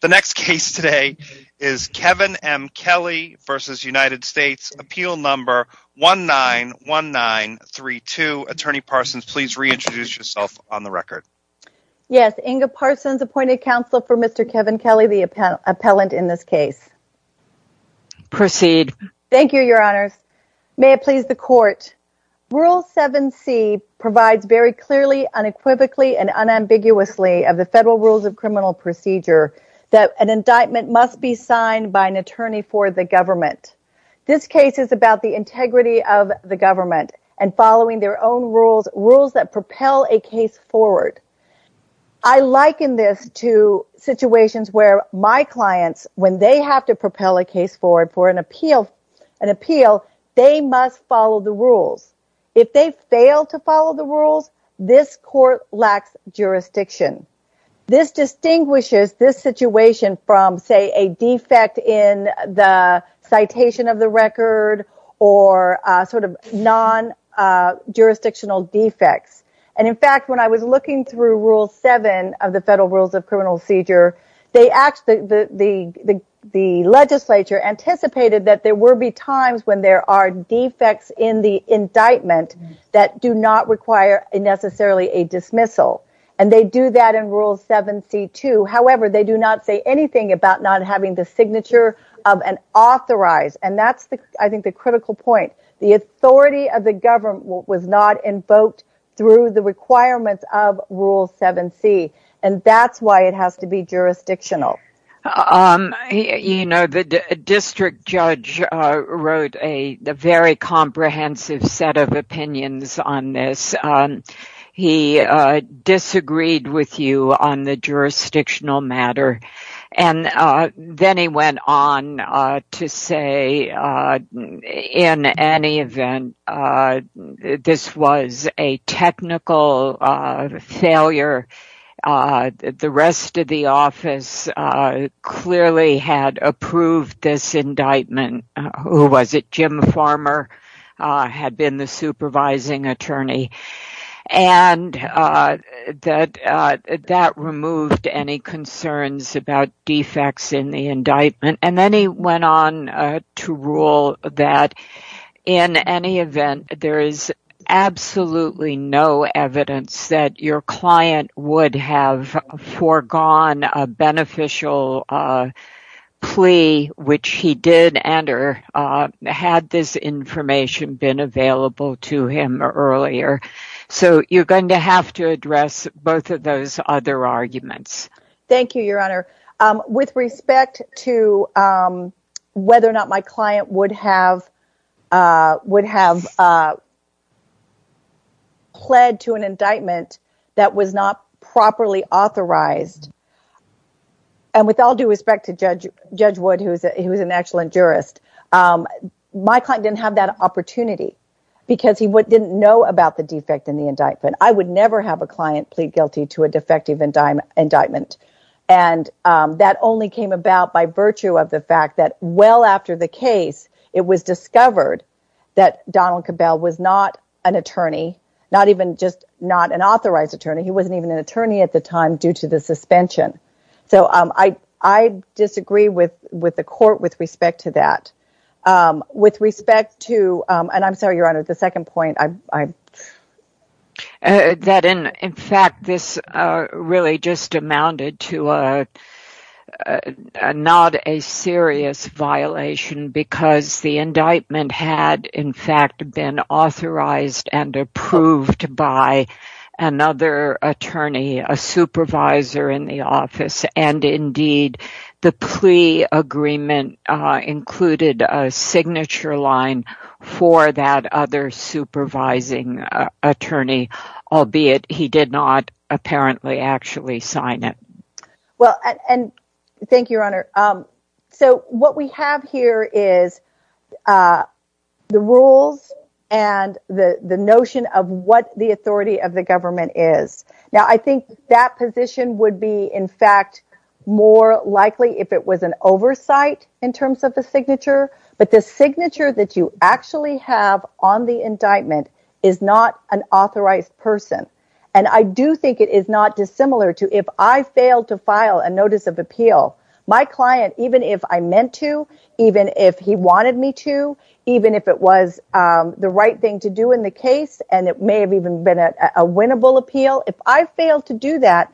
The next case today is Kevin M. Kelly v. United States. Appeal number 191932. Attorney Parsons, please reintroduce yourself on the record. Yes, Inga Parsons, appointed counsel for Mr. Kevin Kelly, the appellant in this case. Proceed. Thank you, Your Honors. May it please the court. Rule 7c provides very clearly, unequivocally, and unambiguously of the Federal Rules of an indictment must be signed by an attorney for the government. This case is about the integrity of the government and following their own rules, rules that propel a case forward. I liken this to situations where my clients, when they have to propel a case forward for an appeal, they must follow the rules. If they fail to follow the rules, this court lacks jurisdiction. This distinguishes this situation from, say, a defect in the citation of the record, or sort of non-jurisdictional defects. In fact, when I was looking through Rule 7 of the Federal Rules of Criminal Procedure, the legislature anticipated that there would be times when there are a dismissal. They do that in Rule 7c too. However, they do not say anything about not having the signature of an authorized. That's the critical point. The authority of the government was not invoked through the requirements of Rule 7c. That's why it has to be jurisdictional. The district judge wrote a very comprehensive set of opinions on this. He disagreed with you on the jurisdictional matter. Then he went on to say, in any event, this was a technical failure. The rest of the office clearly had approved this indictment. Jim Farmer had been the supervising attorney. That removed any concerns about defects in the indictment. Then he went on to rule that, in any event, there is absolutely no evidence that your client would have foregone a beneficial plea, which he did enter, had this information been available to him earlier. You're going to have to address both of those other arguments. Thank you, Your Honor. With respect to whether or not my client would have pled to an indictment that was not properly authorized, and with all due respect to Judge Wood, who is an excellent jurist, my client didn't have that opportunity because he didn't know about the defect in the indictment. I would never have a client plead guilty to a defective indictment. That only came about by virtue of the fact that, well after the case, it was discovered that Donald Cabell was not an authorized attorney. He wasn't even an attorney at the time due to the suspension. I disagree with the Court with respect to that. I'm sorry, Your Honor, the second point... In fact, this really just amounted to not a serious violation because the indictment had, in fact, been authorized and approved by another attorney, a supervisor in the office, and indeed, the plea agreement included a signature line for that other supervising attorney, albeit he did not apparently actually sign it. Thank you, Your Honor. What we have here is the rules and the notion of what the authority of the more likely if it was an oversight in terms of the signature, but the signature that you actually have on the indictment is not an authorized person, and I do think it is not dissimilar to if I fail to file a notice of appeal, my client, even if I meant to, even if he wanted me to, even if it was the right thing to do in the case, and it may have even been a winnable appeal, if I fail to do that...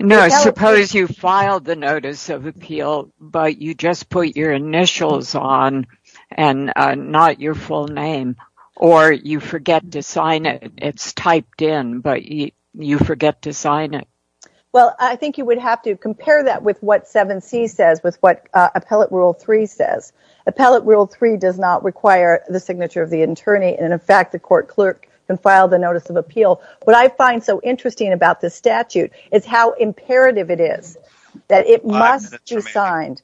No, I suppose you filed the notice of appeal, but you just put your initials on and not your full name, or you forget to sign it. It's typed in, but you forget to sign it. Well, I think you would have to compare that with what 7c says, with what Appellate Rule 3 says. Appellate Rule 3 does not require the signature of the attorney, and in fact, the interesting thing about this statute is how imperative it is that it must be signed.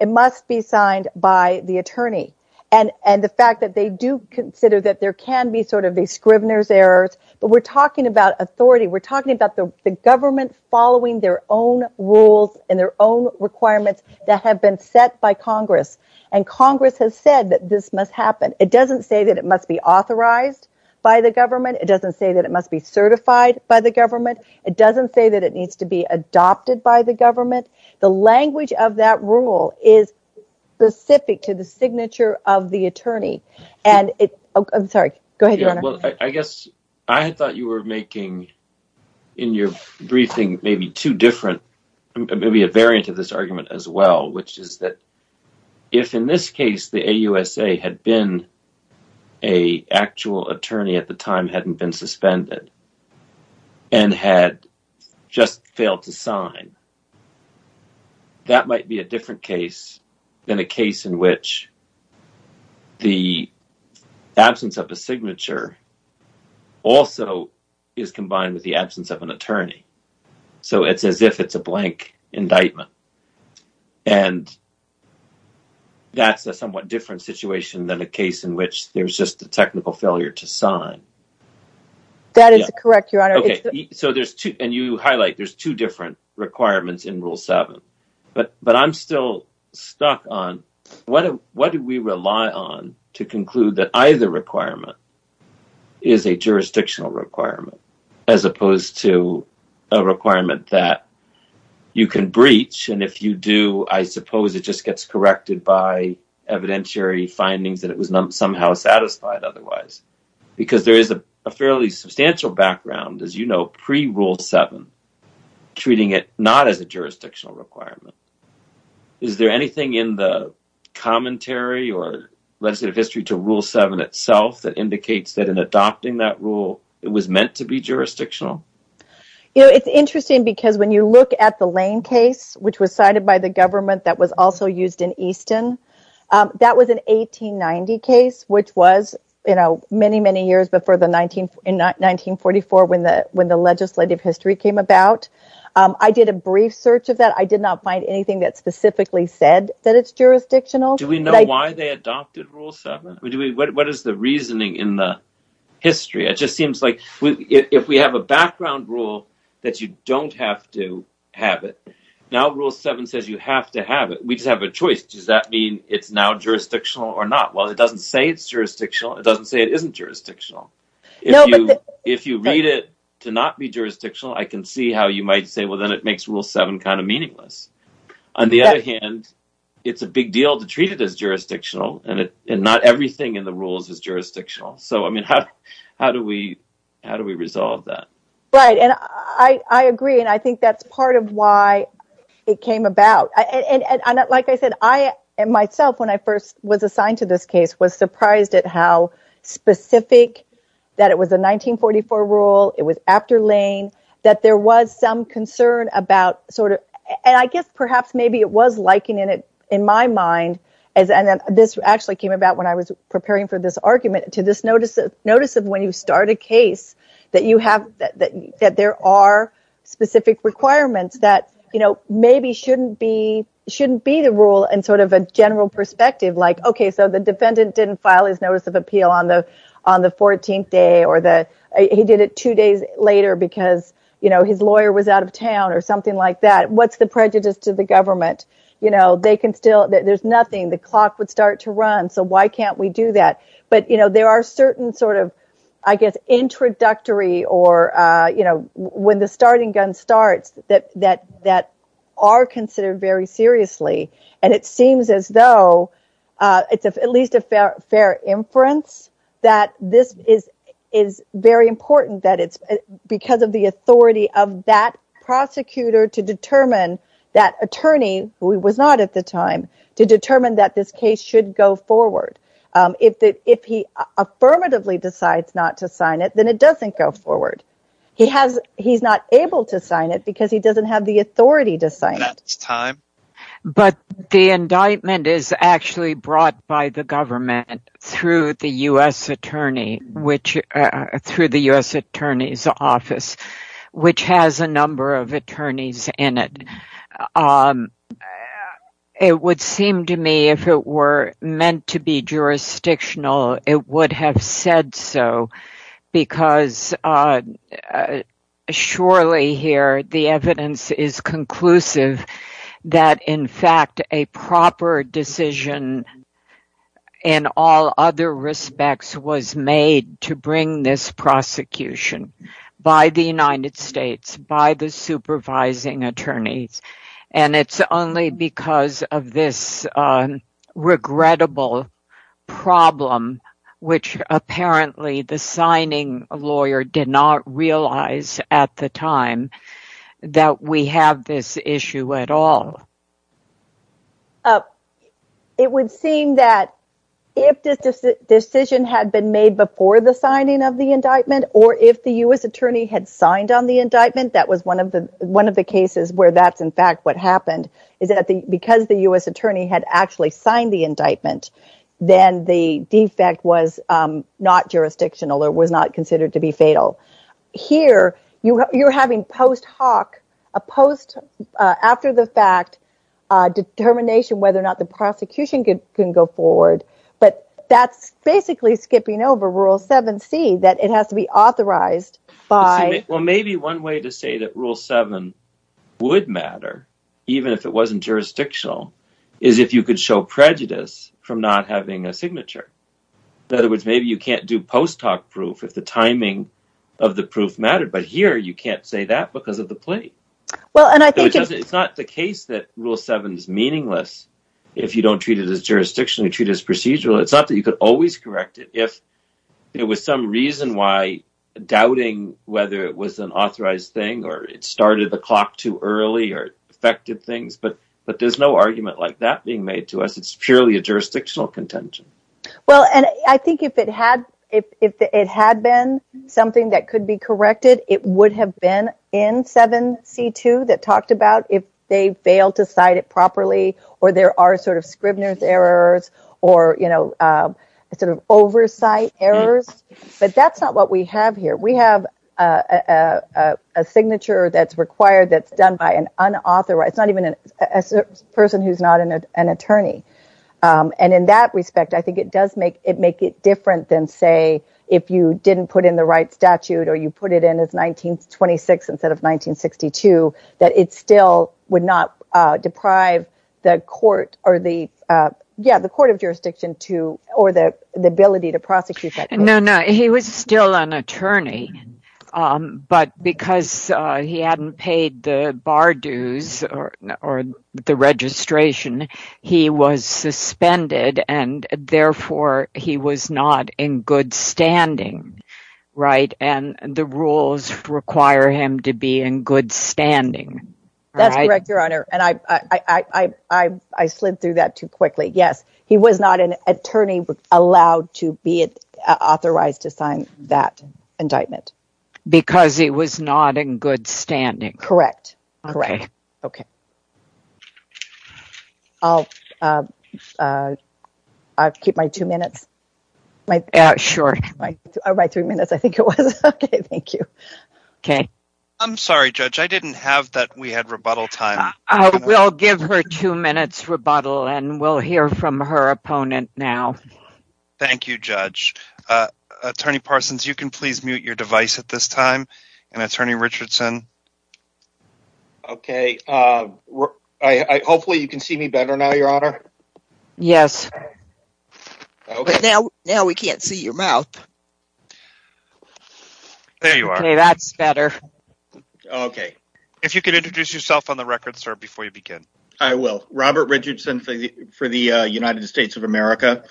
It must be signed by the attorney, and the fact that they do consider that there can be sort of these Scrivener's errors, but we're talking about authority. We're talking about the government following their own rules and their own requirements that have been set by Congress, and Congress has said that this must happen. It doesn't say that it must be authorized by the government. It doesn't say that it must be certified by the government. It doesn't say that it needs to be adopted by the government. The language of that rule is specific to the signature of the attorney, and it... I'm sorry. Go ahead, Your Honor. Well, I guess I thought you were making, in your briefing, maybe two different... maybe a variant of this argument as well, which is that if, in this case, the AUSA had been an actual attorney at the time, hadn't been suspended, and had just failed to sign, that might be a different case than a case in which the absence of a signature also is combined with the absence of an attorney. So it's as if it's a blank indictment, and that's a somewhat different situation than a case in which there's just the technical failure to sign. That is correct, Your Honor. Okay, so there's two, and you highlight there's two different requirements in Rule 7, but I'm still stuck on what do we rely on to conclude that either requirement is a jurisdictional requirement, as opposed to a requirement that you can breach, and if you do, I suppose it just gets corrected by evidentiary findings that it was somehow satisfied otherwise, because there is a fairly substantial background, as you know, pre-Rule 7, treating it not as a jurisdictional requirement. Is there anything in the commentary or legislative history to Rule 7 itself that indicates that in adopting that rule, it was meant to be jurisdictional? You know, it's interesting because when you look at the Lane case, which was cited by the government that was also used in Easton, that was an 1890 case, which was, you know, many, many years before in 1944 when the legislative history came about. I did a brief search of that. I did not find anything that specifically said that it's jurisdictional. Do we know why they the reasoning in the history? It just seems like if we have a background rule that you don't have to have it, now Rule 7 says you have to have it. We just have a choice. Does that mean it's now jurisdictional or not? Well, it doesn't say it's jurisdictional. It doesn't say it isn't jurisdictional. If you read it to not be jurisdictional, I can see how you might say, well, then it makes Rule 7 kind of meaningless. On the other hand, it's a big deal to treat it as jurisdictional and not everything in the rules is jurisdictional. So, I mean, how do we resolve that? Right. And I agree. And I think that's part of why it came about. And like I said, I myself, when I first was assigned to this case, was surprised at how specific that it was a 1944 rule. It was after Lane, that there was some concern about sort of, and I guess perhaps maybe it was liking in it, in my mind, as this actually came about when I was preparing for this argument to this notice of when you start a case that you have, that there are specific requirements that, you know, maybe shouldn't be, shouldn't be the rule and sort of a general perspective, like, okay, so the defendant didn't file his notice of appeal on the 14th day or that he did it two days later because, you know, his lawyer was out of town or something like that. What's the prejudice to the government? You know, they can still, there's nothing, the clock would start to run. So why can't we do that? But, you know, there are certain sort of, I guess, introductory or, you know, when the starting gun starts that are considered very seriously. And it seems as though it's at least a fair inference that this is very important that it's because of the authority of that prosecutor to determine that attorney, who was not at the time, to determine that this case should go forward. If he affirmatively decides not to sign it, then it doesn't go forward. He has, he's not able to sign it because he doesn't have the authority to sign it. That's time. But the indictment is actually brought by the government through the U.S. attorney, which, through the U.S. attorney's office, which has a number of attorneys in it. It would seem to me if it were meant to be jurisdictional, it would have said so because surely here the evidence is conclusive that, in fact, a proper decision in all other respects was made to bring this prosecution by the United States, by the supervising attorneys. And it's only because of this regrettable problem, which apparently the signing lawyer did not realize at the time that we have this issue at all. It would seem that if this decision had been made before the signing of the indictment or if the U.S. attorney had signed on the indictment, that was one of the cases where that's, in fact, what happened, is that because the U.S. attorney had actually signed the indictment, then the defect was not jurisdictional or was not considered to be fatal. Here, you're having post hoc, a post, after the fact, determination whether or not the prosecution can go forward. But that's basically skipping over Rule 7c, that it has to be authorized by... Well, maybe one way to say that Rule 7 would matter, even if it wasn't jurisdictional, is if you could show prejudice from not having a signature. In other words, maybe you can't do post hoc proof if the timing of the proof mattered. But here you can't say that because of the plea. It's not the case that Rule 7 is meaningless if you don't treat it as jurisdictional, you treat it as procedural. It's not that you could always correct it if there was some reason why doubting whether it was an authorized thing or it started the clock too early or affected things. But there's no argument like that being made to us. It's purely a jurisdictional contention. Well, and I think if it had been something that could be corrected, it would have been in 7c2 that talked about if they failed to cite it properly or there are sort of Scribner's errors or sort of oversight errors. But that's not what we have here. We have a signature that's required, that's done by an unauthorized, not even a person who's not an attorney. And in that respect, it makes it different than, say, if you didn't put in the right statute or you put it in as 1926 instead of 1962, that it still would not deprive the court of jurisdiction or the ability to prosecute that case. No, no. He was still an attorney. But because he hadn't paid the bar dues or the registration, he was suspended and therefore he was not in good standing, right? And the rules require him to be in good standing. That's correct, Your Honor. And I slid through that too quickly. Yes, he was not an attorney allowed to be authorized to sign that indictment. Because he was not in good standing. Correct, correct. Okay. I'll keep my two minutes. Sure. My three minutes, I think it was. Okay, thank you. Okay. I'm sorry, Judge. I didn't have that. We had rebuttal time. I will give her two minutes rebuttal and we'll hear from her opponent now. Thank you, Judge. Attorney Parsons, you can please mute your device at this time. And Attorney Richardson. Okay. Hopefully you can see me better now, Your Honor. Yes. Now we can't see your mouth. There you are. Okay, that's better. Okay. If you could introduce yourself on the record, sir, before you begin. I will. Robert Richardson for the United States of America.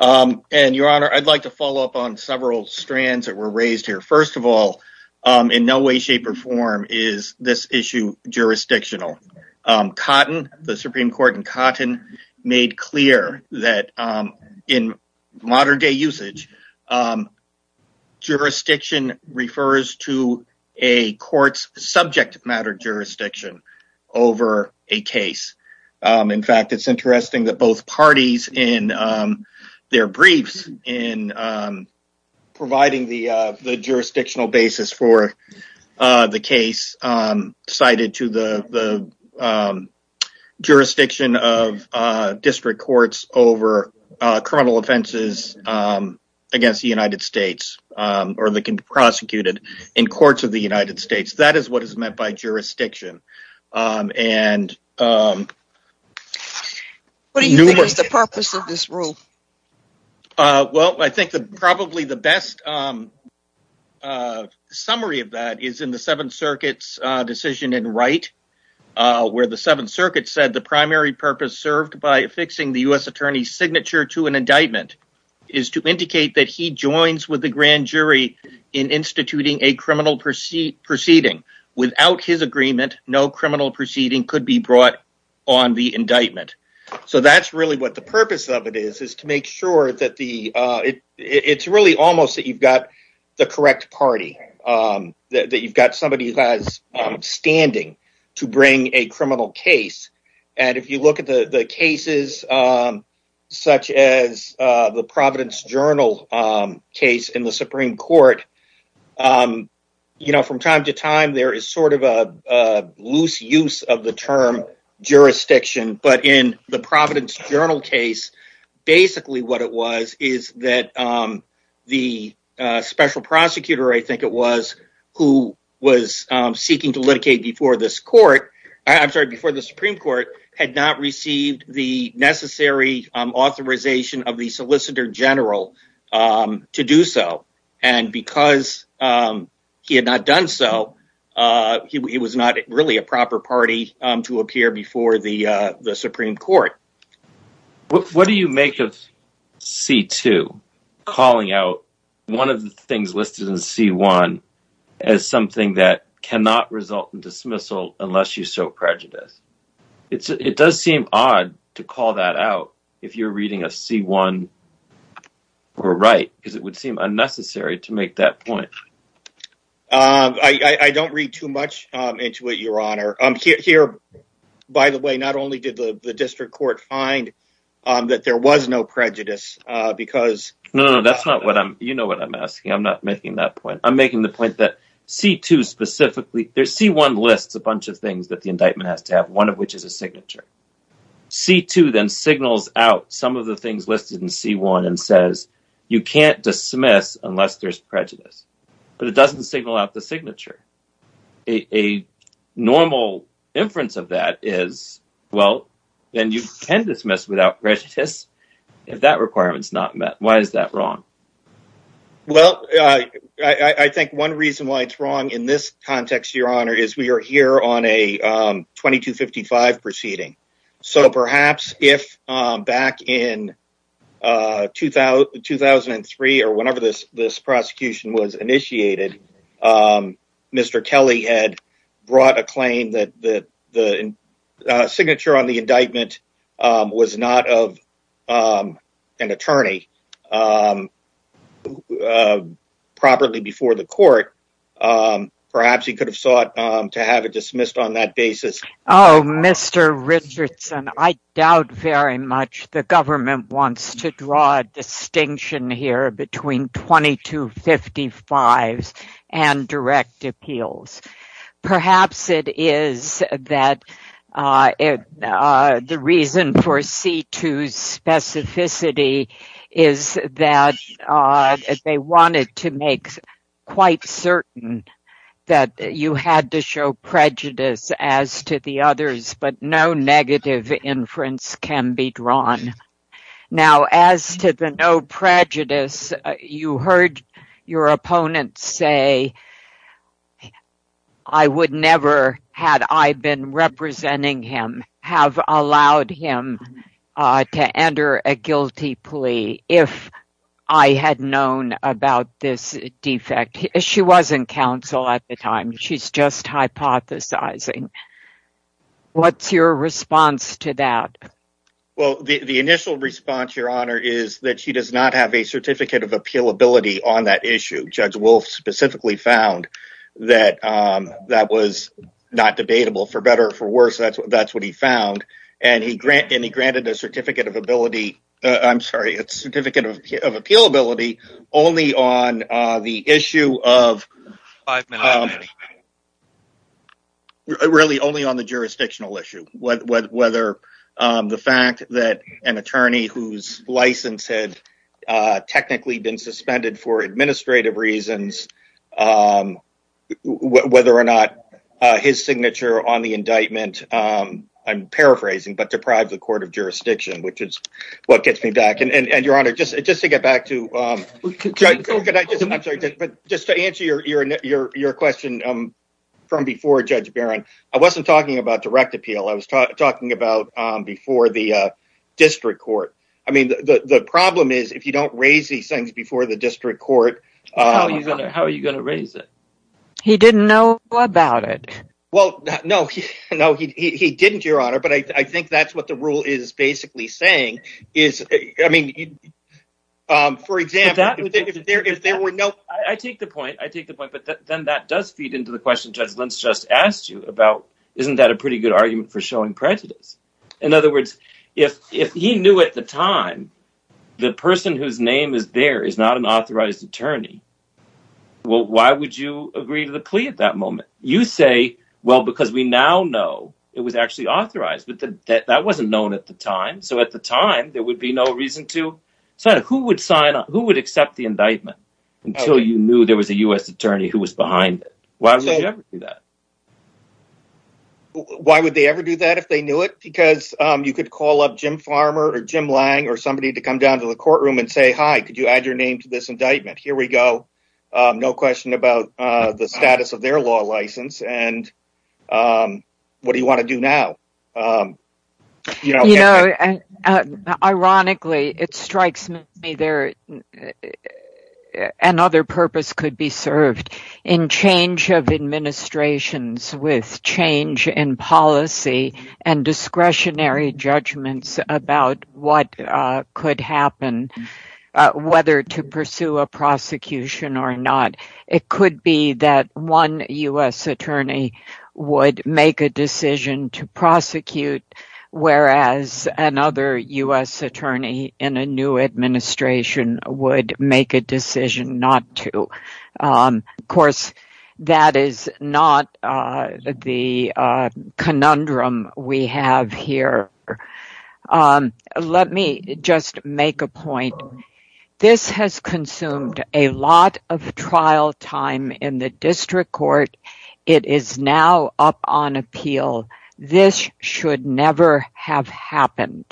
And Your Honor, I'd like to follow up on several strands that were raised here. First of all, in no way, shape or form is this issue jurisdictional. Cotton, the Supreme Court in Cotton made clear that in modern day usage, jurisdiction refers to a court's subject matter jurisdiction over a case. In fact, it's interesting that both parties in their briefs in providing the jurisdictional basis for the case cited to the jurisdiction of district courts over criminal offenses against the United States or that can be prosecuted in courts of the United States. What do you think is the purpose of this rule? Well, I think probably the best summary of that is in the Seventh Circuit's decision in Wright, where the Seventh Circuit said the primary purpose served by affixing the U.S. attorney's signature to an indictment is to indicate that he joins with the grand jury in instituting a no criminal proceeding could be brought on the indictment. So that's really what the purpose of it is, is to make sure that it's really almost that you've got the correct party, that you've got somebody who has standing to bring a criminal case. And if you look at the cases such as the Providence Journal case in the Supreme Court, you know, from time to time there is sort of a loose use of the term jurisdiction. But in the Providence Journal case, basically what it was is that the special prosecutor, I think it was, who was seeking to litigate before the Supreme Court had not received the necessary authorization of the he was not really a proper party to appear before the Supreme Court. What do you make of C-2 calling out one of the things listed in C-1 as something that cannot result in dismissal unless you show prejudice? It does seem odd to call that out if you're reading a C-1 or Wright, because it would seem unnecessary to make that point. I don't read too much into it, Your Honor. Here, by the way, not only did the district court find that there was no prejudice, because... No, no, that's not what I'm, you know what I'm asking. I'm not making that point. I'm making the point that C-2 specifically, there's C-1 lists a bunch of things that the indictment has to have, one of which is a signature. C-2 then signals out some of the things listed in C-1 and says, you can't dismiss unless there's prejudice, but it doesn't signal out the signature. A normal inference of that is, well, then you can dismiss without prejudice if that requirement is not met. Why is that wrong? Well, I think one reason why it's wrong in this context, Your Honor, is we are here on a back in 2003 or whenever this prosecution was initiated, Mr. Kelly had brought a claim that the signature on the indictment was not of an attorney properly before the court. Perhaps he could have sought to have it dismissed on that basis. Oh, Mr. Richardson, I doubt very much the government wants to draw a distinction here between 2255s and direct appeals. Perhaps it is that the reason for C-2's specificity is that they wanted to make quite certain that you had to show prejudice as to the others, but no negative inference can be drawn. Now, as to the no prejudice, you heard your opponent say, I would never, had I been representing him, have allowed him to enter a guilty plea if I had known about this defect. She wasn't counsel at the time. She's just hypothesizing. What's your response to that? Well, the initial response, Your Honor, is that she does not have a certificate of appealability on that issue. Judge Wolf specifically found that that was not debatable. For better or for worse, that's what he found. He granted a certificate of appealability only on the issue of, really, only on the jurisdictional issue. Whether the fact that an attorney whose license had technically been suspended for administrative reasons, whether or not his signature on the indictment, I'm paraphrasing, but deprived the court of jurisdiction, which is what gets me back. Your Honor, just to get back to, just to answer your question from before, Judge Barron, I wasn't talking about direct appeal. I was talking about before the district court. I mean, the problem is, if you don't raise these things before the district court... How are you going to raise it? He didn't know about it. Well, no, he didn't, Your Honor, but I think that's what the rule is basically saying. For example, if there were no... I take the point, but then that does feed into the question Judge Barron's showing prejudice. In other words, if he knew at the time the person whose name is there is not an authorized attorney, well, why would you agree to the plea at that moment? You say, well, because we now know it was actually authorized, but that wasn't known at the time. So at the time, there would be no reason to. So who would sign on? Who would accept the indictment until you knew there was a U.S. attorney who was behind it? Why would you ever do that? Why would they ever do that if they knew it? Because you could call up Jim Farmer or Jim Lange or somebody to come down to the courtroom and say, hi, could you add your name to this indictment? Here we go. No question about the status of their law license and what do you want to do now? You know, ironically, it strikes me there. Another purpose could be served in change of administrations with change in policy and discretionary judgments about what could happen, whether to pursue a prosecution or not. It could be that one U.S. attorney would make a decision to prosecute, whereas another U.S. attorney in a new administration would make a decision not to. Of course, that is not the conundrum we have here. Let me just make a point. This has consumed a lot of trial time in the district court. It is now up on appeal. This should never have happened.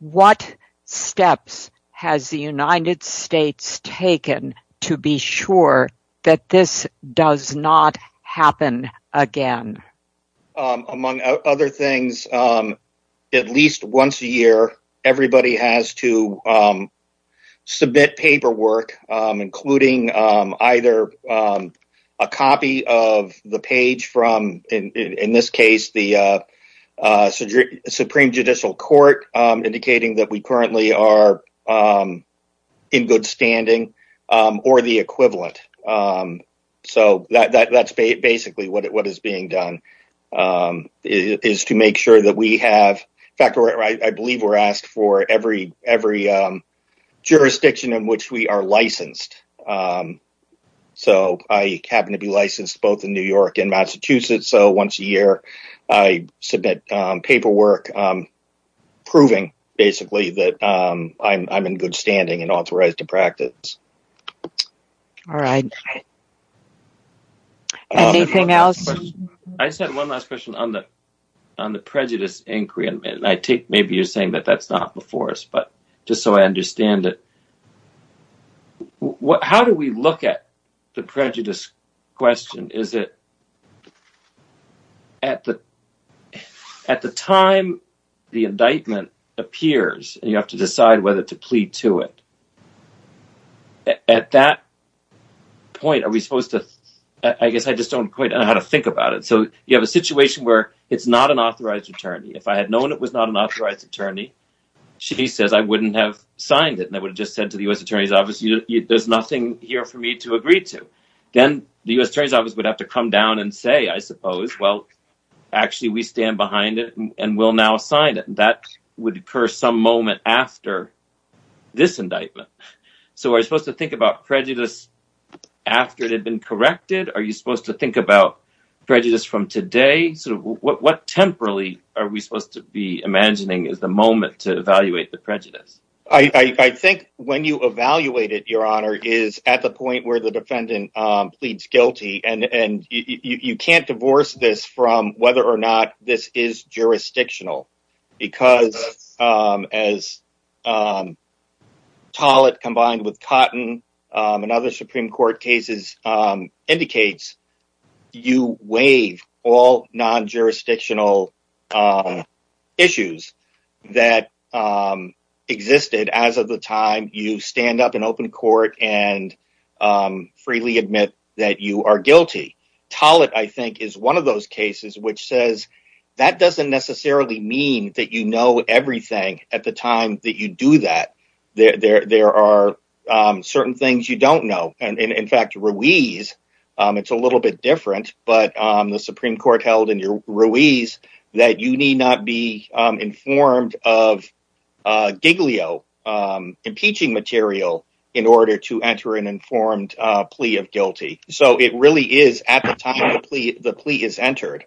What steps has the United States taken to be sure that this does not happen again? Among other things, at least once a year, everybody has to submit paperwork, including either a copy of the page from, in this case, the Supreme Judicial Court, indicating that we currently are in good standing, or the equivalent. That is basically what is being licensed. I happen to be licensed both in New York and Massachusetts. Once a year, I submit paperwork proving, basically, that I am in good standing and authorized to practice. I just have one last question on the prejudice inquiry. Maybe you are saying that that is not before us. How do we look at the prejudice question? At the time the indictment appears, you have to decide whether to plead to it. At that point, I guess I just do not quite know how to think about it. You have a situation where it is not an authorized attorney. If I had said I would not have signed it, and I would have just said to the U.S. Attorney's Office, there is nothing here for me to agree to, then the U.S. Attorney's Office would have to come down and say, I suppose, well, actually, we stand behind it and will now sign it. That would occur some moment after this indictment. Are we supposed to think about prejudice after it had been corrected? Are you supposed to think about prejudice from today? What temporally are we supposed to do? I think when you evaluate it, Your Honor, it is at the point where the defendant pleads guilty. You cannot divorce this from whether or not this is jurisdictional. As Tollett combined with Cotton and other Supreme Court cases indicates, you waive all jurisdictional issues that existed as of the time you stand up in open court and freely admit that you are guilty. Tollett, I think, is one of those cases which says that does not necessarily mean that you know everything at the time that you do that. There are certain things you do not know. In fact, Ruiz, it is a little bit different, but the Supreme Court held in Ruiz that you need not be informed of giglio, impeaching material, in order to enter an informed plea of guilty. It really is at the time the plea is entered.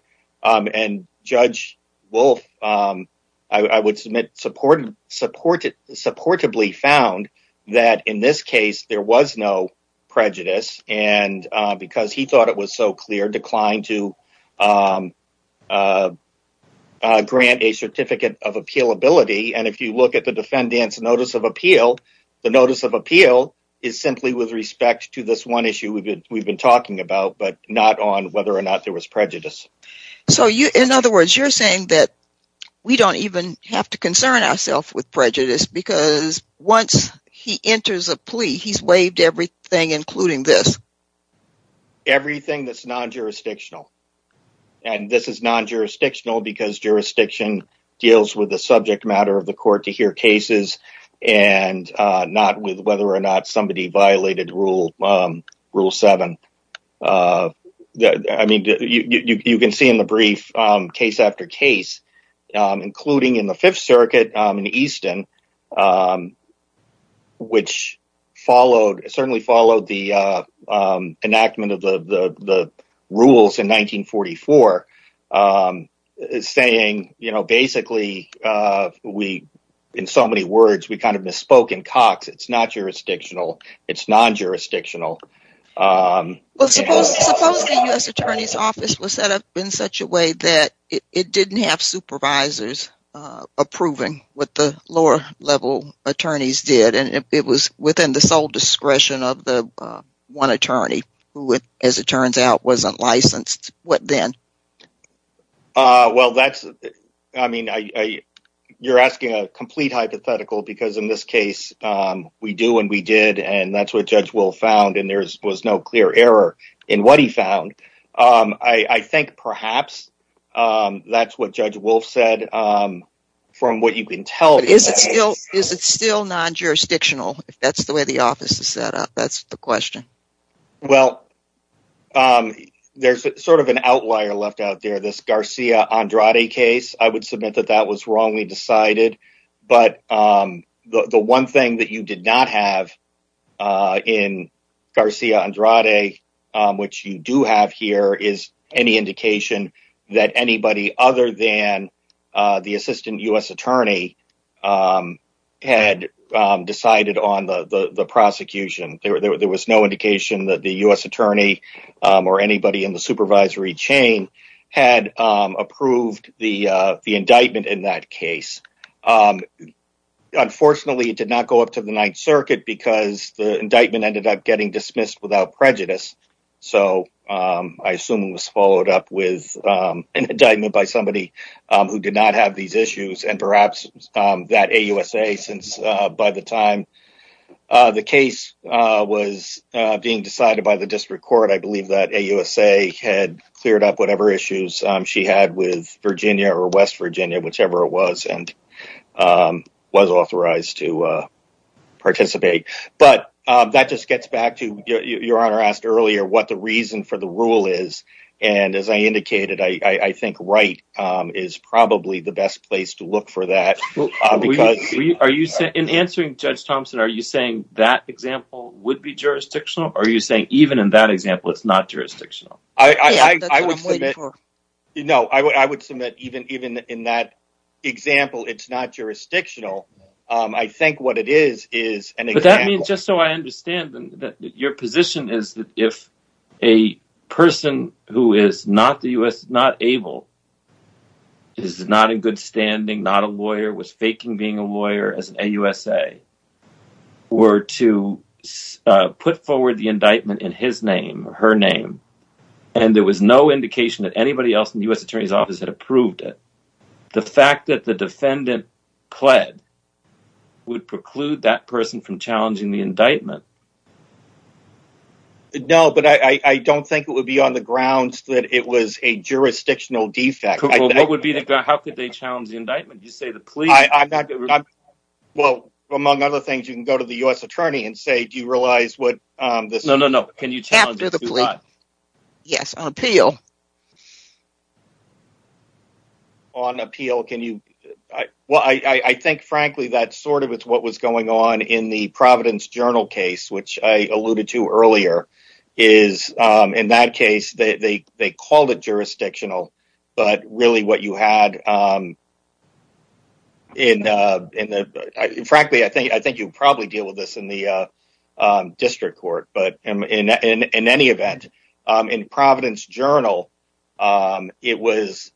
Judge Wolf, I would submit, supportably found that in this case, there was no prejudice and because he thought it was so clear, declined to grant a certificate of appealability. If you look at the defendant's notice of appeal, the notice of appeal is simply with respect to this one issue we have been talking about, but not on whether or not there was prejudice. In other words, you are saying that we do not even have to concern ourselves with prejudice because once he enters a plea, he has waived everything, including this? Everything that is non-jurisdictional. This is non-jurisdictional because jurisdiction deals with the subject matter of the court to hear cases and not with whether or not somebody violated Rule 7. You can see in the brief, case after case, including in the Fifth Circuit in Easton, which certainly followed the enactment of the rules in 1944, saying basically, we, in so many words, we kind of misspoke in Cox. It is not jurisdictional. It is non-jurisdictional. Well, suppose the U.S. Attorney's Office was set up in such a way that it did not have supervisors approving what the lower-level attorneys did and it was within the sole discretion of the one attorney who, as it turns out, was not licensed. What then? Well, that is, I mean, you are asking a complete hypothetical because in this case, we do and we did and that is what Judge Wolf found and there was no clear error in what he found. I think perhaps that is what Judge Wolf said from what you can tell. Is it still non-jurisdictional if that is the way the office is set up? That is the question. Well, there is sort of an outlier left out there. This Garcia-Andrade case, I would submit that that was wrongly decided, but the one thing that you did not have in Garcia-Andrade, which you do have here, is any indication that anybody other than the Assistant U.S. Attorney had decided on the prosecution. There was no indication that the U.S. Attorney or anybody in the supervisory chain had approved the indictment in that case. Unfortunately, it did not go up to the Ninth Circuit because the indictment ended up getting dismissed without prejudice, so I assume it was followed up with an indictment by somebody who did not have these issues and perhaps that AUSA since by the time the case was being decided by the District Court, I believe that AUSA had cleared up whatever issues she had with Virginia or West Virginia, whichever it was, and was authorized to participate. But that just gets back to, your Honor asked earlier, what the reason for the rule is and as I indicated, I think Wright is probably the best place to look for that. In answering Judge Thompson, are you saying that example would be jurisdictional or are you saying even in that example, it's not jurisdictional? I would submit even in that example, it's not jurisdictional. I think what it is, is an example. Just so I understand, your position is that if a person who is not able, is not in good standing, not a lawyer, was faking being a lawyer as an AUSA, were to put forward the indictment in his name or her name and there was no indication that anybody else in the U.S. Attorney's Office had approved it, the fact that the defendant pled would preclude that person from challenging the indictment? No, but I don't think it would be on the grounds that it was a jurisdictional defect. How could they challenge the indictment? Well, among other things, you can go to the U.S. Attorney and say, do you realize what this... No, no, no. Can you challenge it? Yes, on appeal. On appeal, can you... Well, I think frankly, that's sort of what was going on in the Providence Journal case, which I alluded to earlier, is in that case, they called it jurisdictional, but really what you had in the... Frankly, I think you'd probably deal with this in the trial. It was...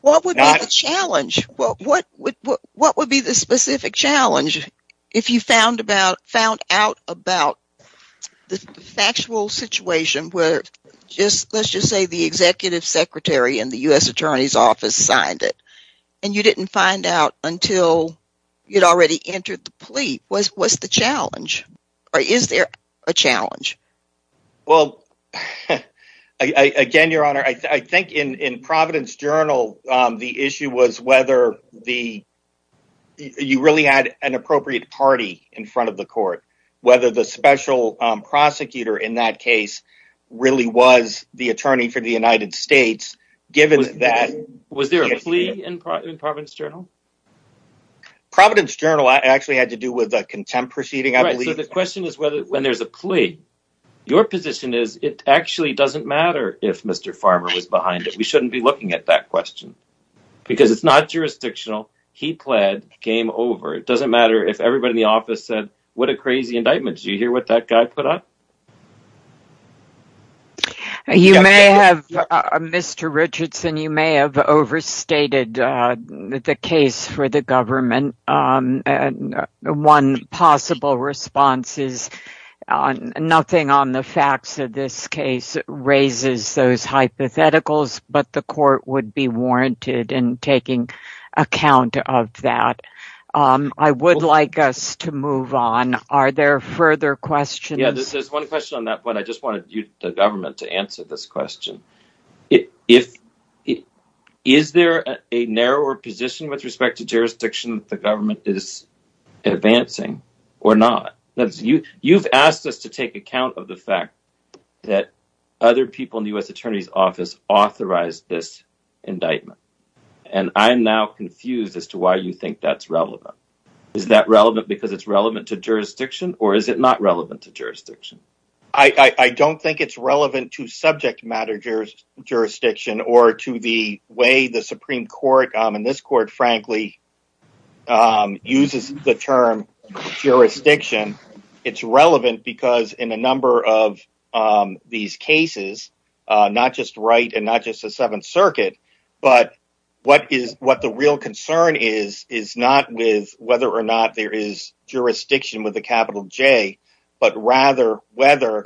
What would be the challenge? What would be the specific challenge if you found out about the factual situation where just, let's just say the Executive Secretary in the U.S. Attorney's Office signed it and you didn't find out until you'd already entered the court. I think in Providence Journal, the issue was whether you really had an appropriate party in front of the court, whether the special prosecutor in that case really was the attorney for the United States, given that... Was there a plea in Providence Journal? Providence Journal actually had to do with a contempt proceeding, I believe. The question is whether when there's a plea, your position is it actually doesn't matter if Mr. Farmer was behind it. We shouldn't be looking at that question because it's not jurisdictional. He pled, game over. It doesn't matter if everybody in the office said, what a crazy indictment. Did you hear what that guy put up? You may have, Mr. Richardson, you may have overstated the case for the government. And one possible response is nothing on the facts of this case raises those hypotheticals, but the court would be warranted in taking account of that. I would like us to move on. Are there further questions? Yeah, there's one question on that one. I just wanted the government to answer this question. If it is there a narrower position with respect to jurisdiction, the government is advancing or not. That's you. You've asked us to take account of the fact that other people in the U.S. attorney's office authorized this indictment. And I'm now confused as to why you think that's relevant. Is that relevant because it's relevant to jurisdiction or is it not relevant to jurisdiction? I don't think it's relevant to subject matter jurisdiction or to the way the Supreme Court and this court, frankly, uses the term jurisdiction. It's relevant because in a number of these cases, not just Wright and not just the Seventh Circuit, but what the real concern is, is not with whether or not there is jurisdiction with a capital J, but rather whether.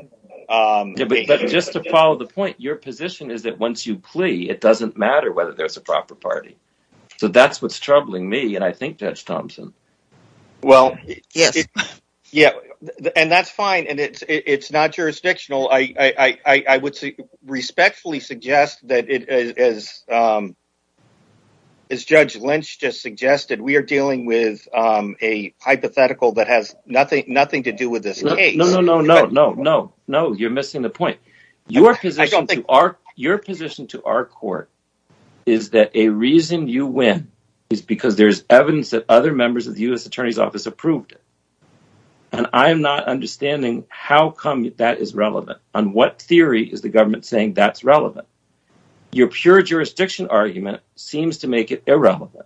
Just to follow the point, your position is that once you plea, it doesn't matter whether there's a proper party. So that's what's troubling me. And I think Judge Thompson. Well, yeah, and that's fine. And it's not jurisdictional. I would respectfully suggest that as Judge Lynch just suggested, we are dealing with a hypothetical that has nothing to do with this case. No, no, no, no, no, no. You're missing the point. Your position to our court is that a reason you win is because there's evidence that other members of the U.S. attorney's office approved it. And I'm not understanding how come that is relevant. On what theory is the government saying that's relevant? Your pure jurisdiction argument seems to make it irrelevant.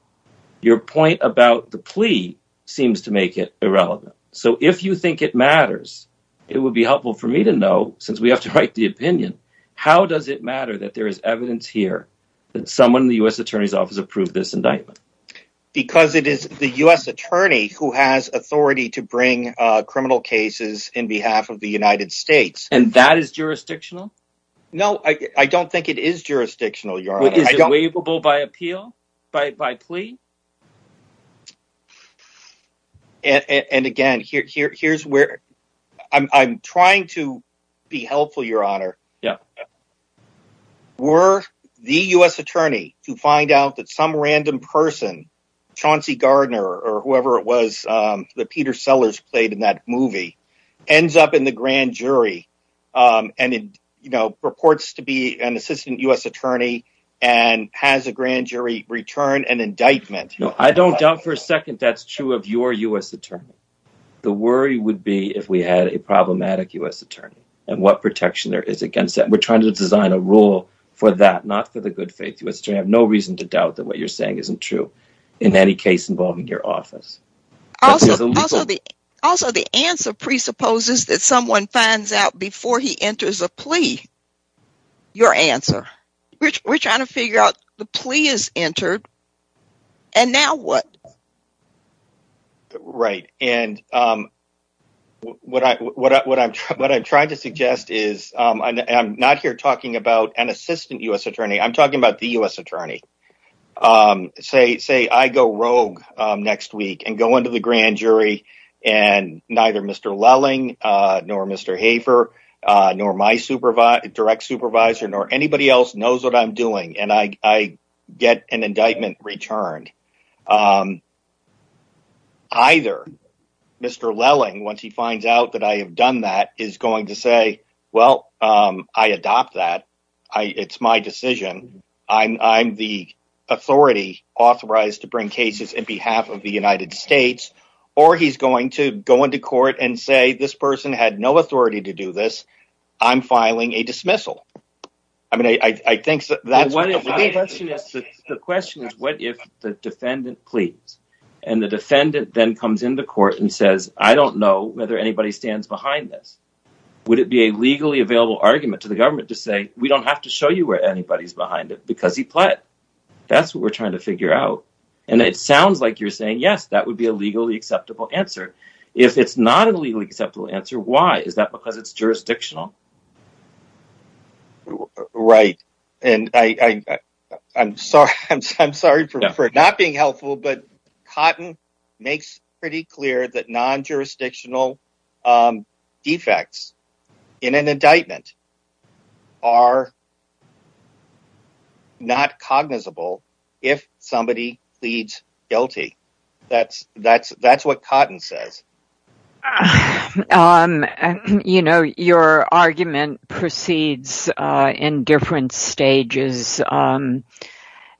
Your point about the plea seems to make it irrelevant. So if you think it matters, it would be helpful for me to know since we have to write the opinion. How does it matter that there is evidence here that someone in the U.S. attorney's office approved this indictment? Because it is the U.S. attorney who has authority to bring criminal cases in behalf of the United States. And that is jurisdictional? No, I don't think it is jurisdictional, Your Honor. Is it waivable by appeal, by plea? And again, here's where I'm trying to be helpful, Your Honor. Were the U.S. attorney to find out that some random person, Chauncey Gardner or whoever it was that Peter Sellers played in that and it purports to be an assistant U.S. attorney and has a grand jury return an indictment? No, I don't doubt for a second that's true of your U.S. attorney. The worry would be if we had a problematic U.S. attorney and what protection there is against that. We're trying to design a rule for that, not for the good faith. You have no reason to doubt that what you're saying isn't true in any case involving your office. Also, the answer presupposes that someone finds out before he enters a plea, your answer. We're trying to figure out the plea is entered and now what? Right, and what I'm trying to suggest is, I'm not here talking about an assistant U.S. attorney, I'm talking about the U.S. attorney. Say I go rogue next week and go to the grand jury and neither Mr. Lelling, nor Mr. Hafer, nor my direct supervisor, nor anybody else knows what I'm doing and I get an indictment returned. Either Mr. Lelling, once he finds out that I have done that, is going to say, well, I adopt that. It's my decision. I'm the authority authorized to bring cases in behalf of the United States or he's going to go into court and say, this person had no authority to do this. I'm filing a dismissal. I mean, I think that's the question is, what if the defendant pleads and the defendant then comes into court and says, I don't know whether anybody stands behind this. Would it be a legally available argument to the government to say, we don't have to show you where anybody's behind it because he pled. That's what we're trying to figure out. And it sounds like you're saying, yes, that would be a legally acceptable answer. If it's not a legally acceptable answer, why is that? Because it's jurisdictional. Right. And I'm sorry, I'm sorry for not being helpful, but Cotton makes pretty clear that non-jurisdictional defects in an indictment are not cognizable if somebody pleads guilty. That's what Cotton says. You know, your argument proceeds in different stages.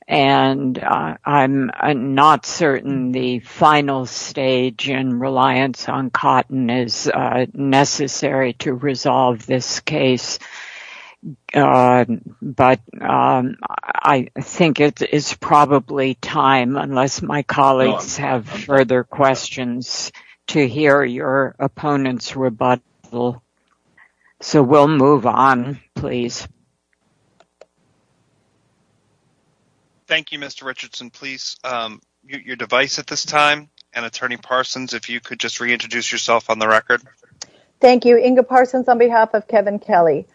And I'm not certain the final stage in reliance on Cotton is necessary to resolve this case. But I think it is probably time, unless my colleagues have further questions, to hear your opponent's rebuttal. So we'll move on, please. Thank you, Mr. Richardson. Please mute your device at this time. And Attorney Parsons, if you could just reintroduce yourself on the record. Thank you. Inga Parsons on behalf of Kevin Kelly.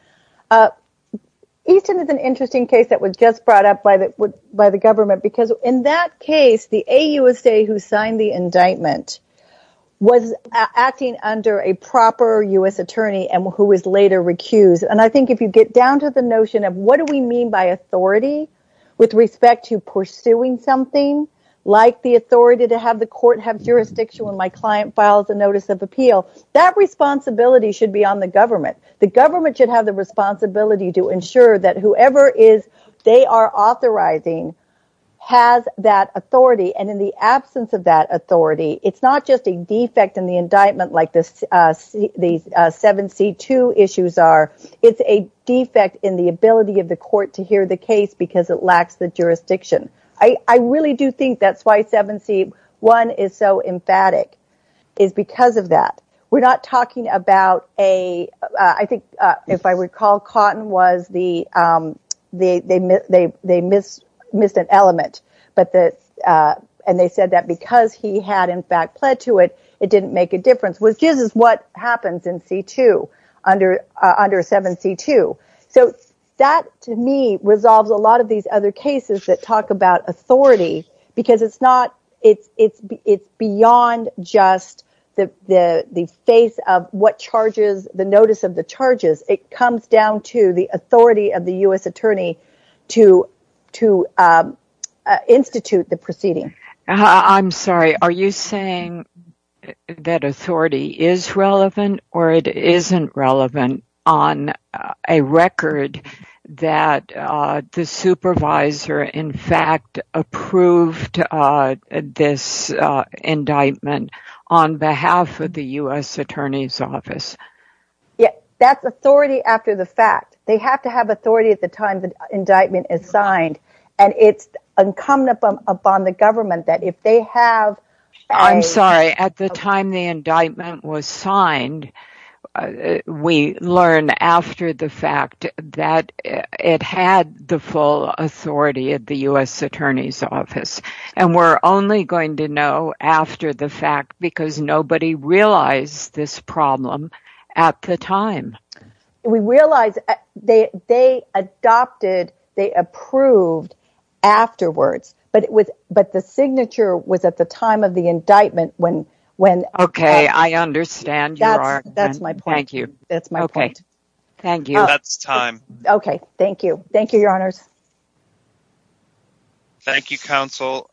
Easton is an interesting case that was just brought up by the government because in that case, the AUSA who signed the indictment was acting under a proper U.S. attorney and who was later recused. And I think if you get down to the notion of what do we mean by authority with respect to pursuing something like the authority to have the court have jurisdiction when my client files a notice of appeal, that responsibility should be on the government. The government should have the responsibility to ensure that whoever they are authorizing has that authority. And in the absence of that authority, it's not just a defect in the indictment like the 7C2 issues are. It's a defect in the ability of the court to hear the case because it lacks the jurisdiction. I really do think that's why 7C1 is so emphatic is because of that. We're not talking about a, I think if I recall, Cotton was the, they missed an element, and they said that because he had in fact pled to it, it didn't make a difference, which is what happens in C2 under 7C2. So that to me resolves a lot of these other cases that talk about authority because it's beyond just the face of what charges the notice of the charges. It comes down to the authority of the U.S. attorney to institute the proceeding. I'm sorry, are you saying that authority is relevant or it isn't relevant on a record that the supervisor in fact approved this indictment on behalf of the U.S. attorney's office? Yeah, that's authority after the fact. They have to have authority at the time the government that if they have... I'm sorry, at the time the indictment was signed, we learned after the fact that it had the full authority of the U.S. attorney's office, and we're only going to know after the fact because nobody realized this problem at the time. We realized they adopted, they approved afterwards, but the signature was at the time of the indictment when... Okay, I understand your argument. That's my point. Thank you. That's my point. Okay, thank you. That's time. Okay, thank you. Thank you, your honors. Thank you, counsel.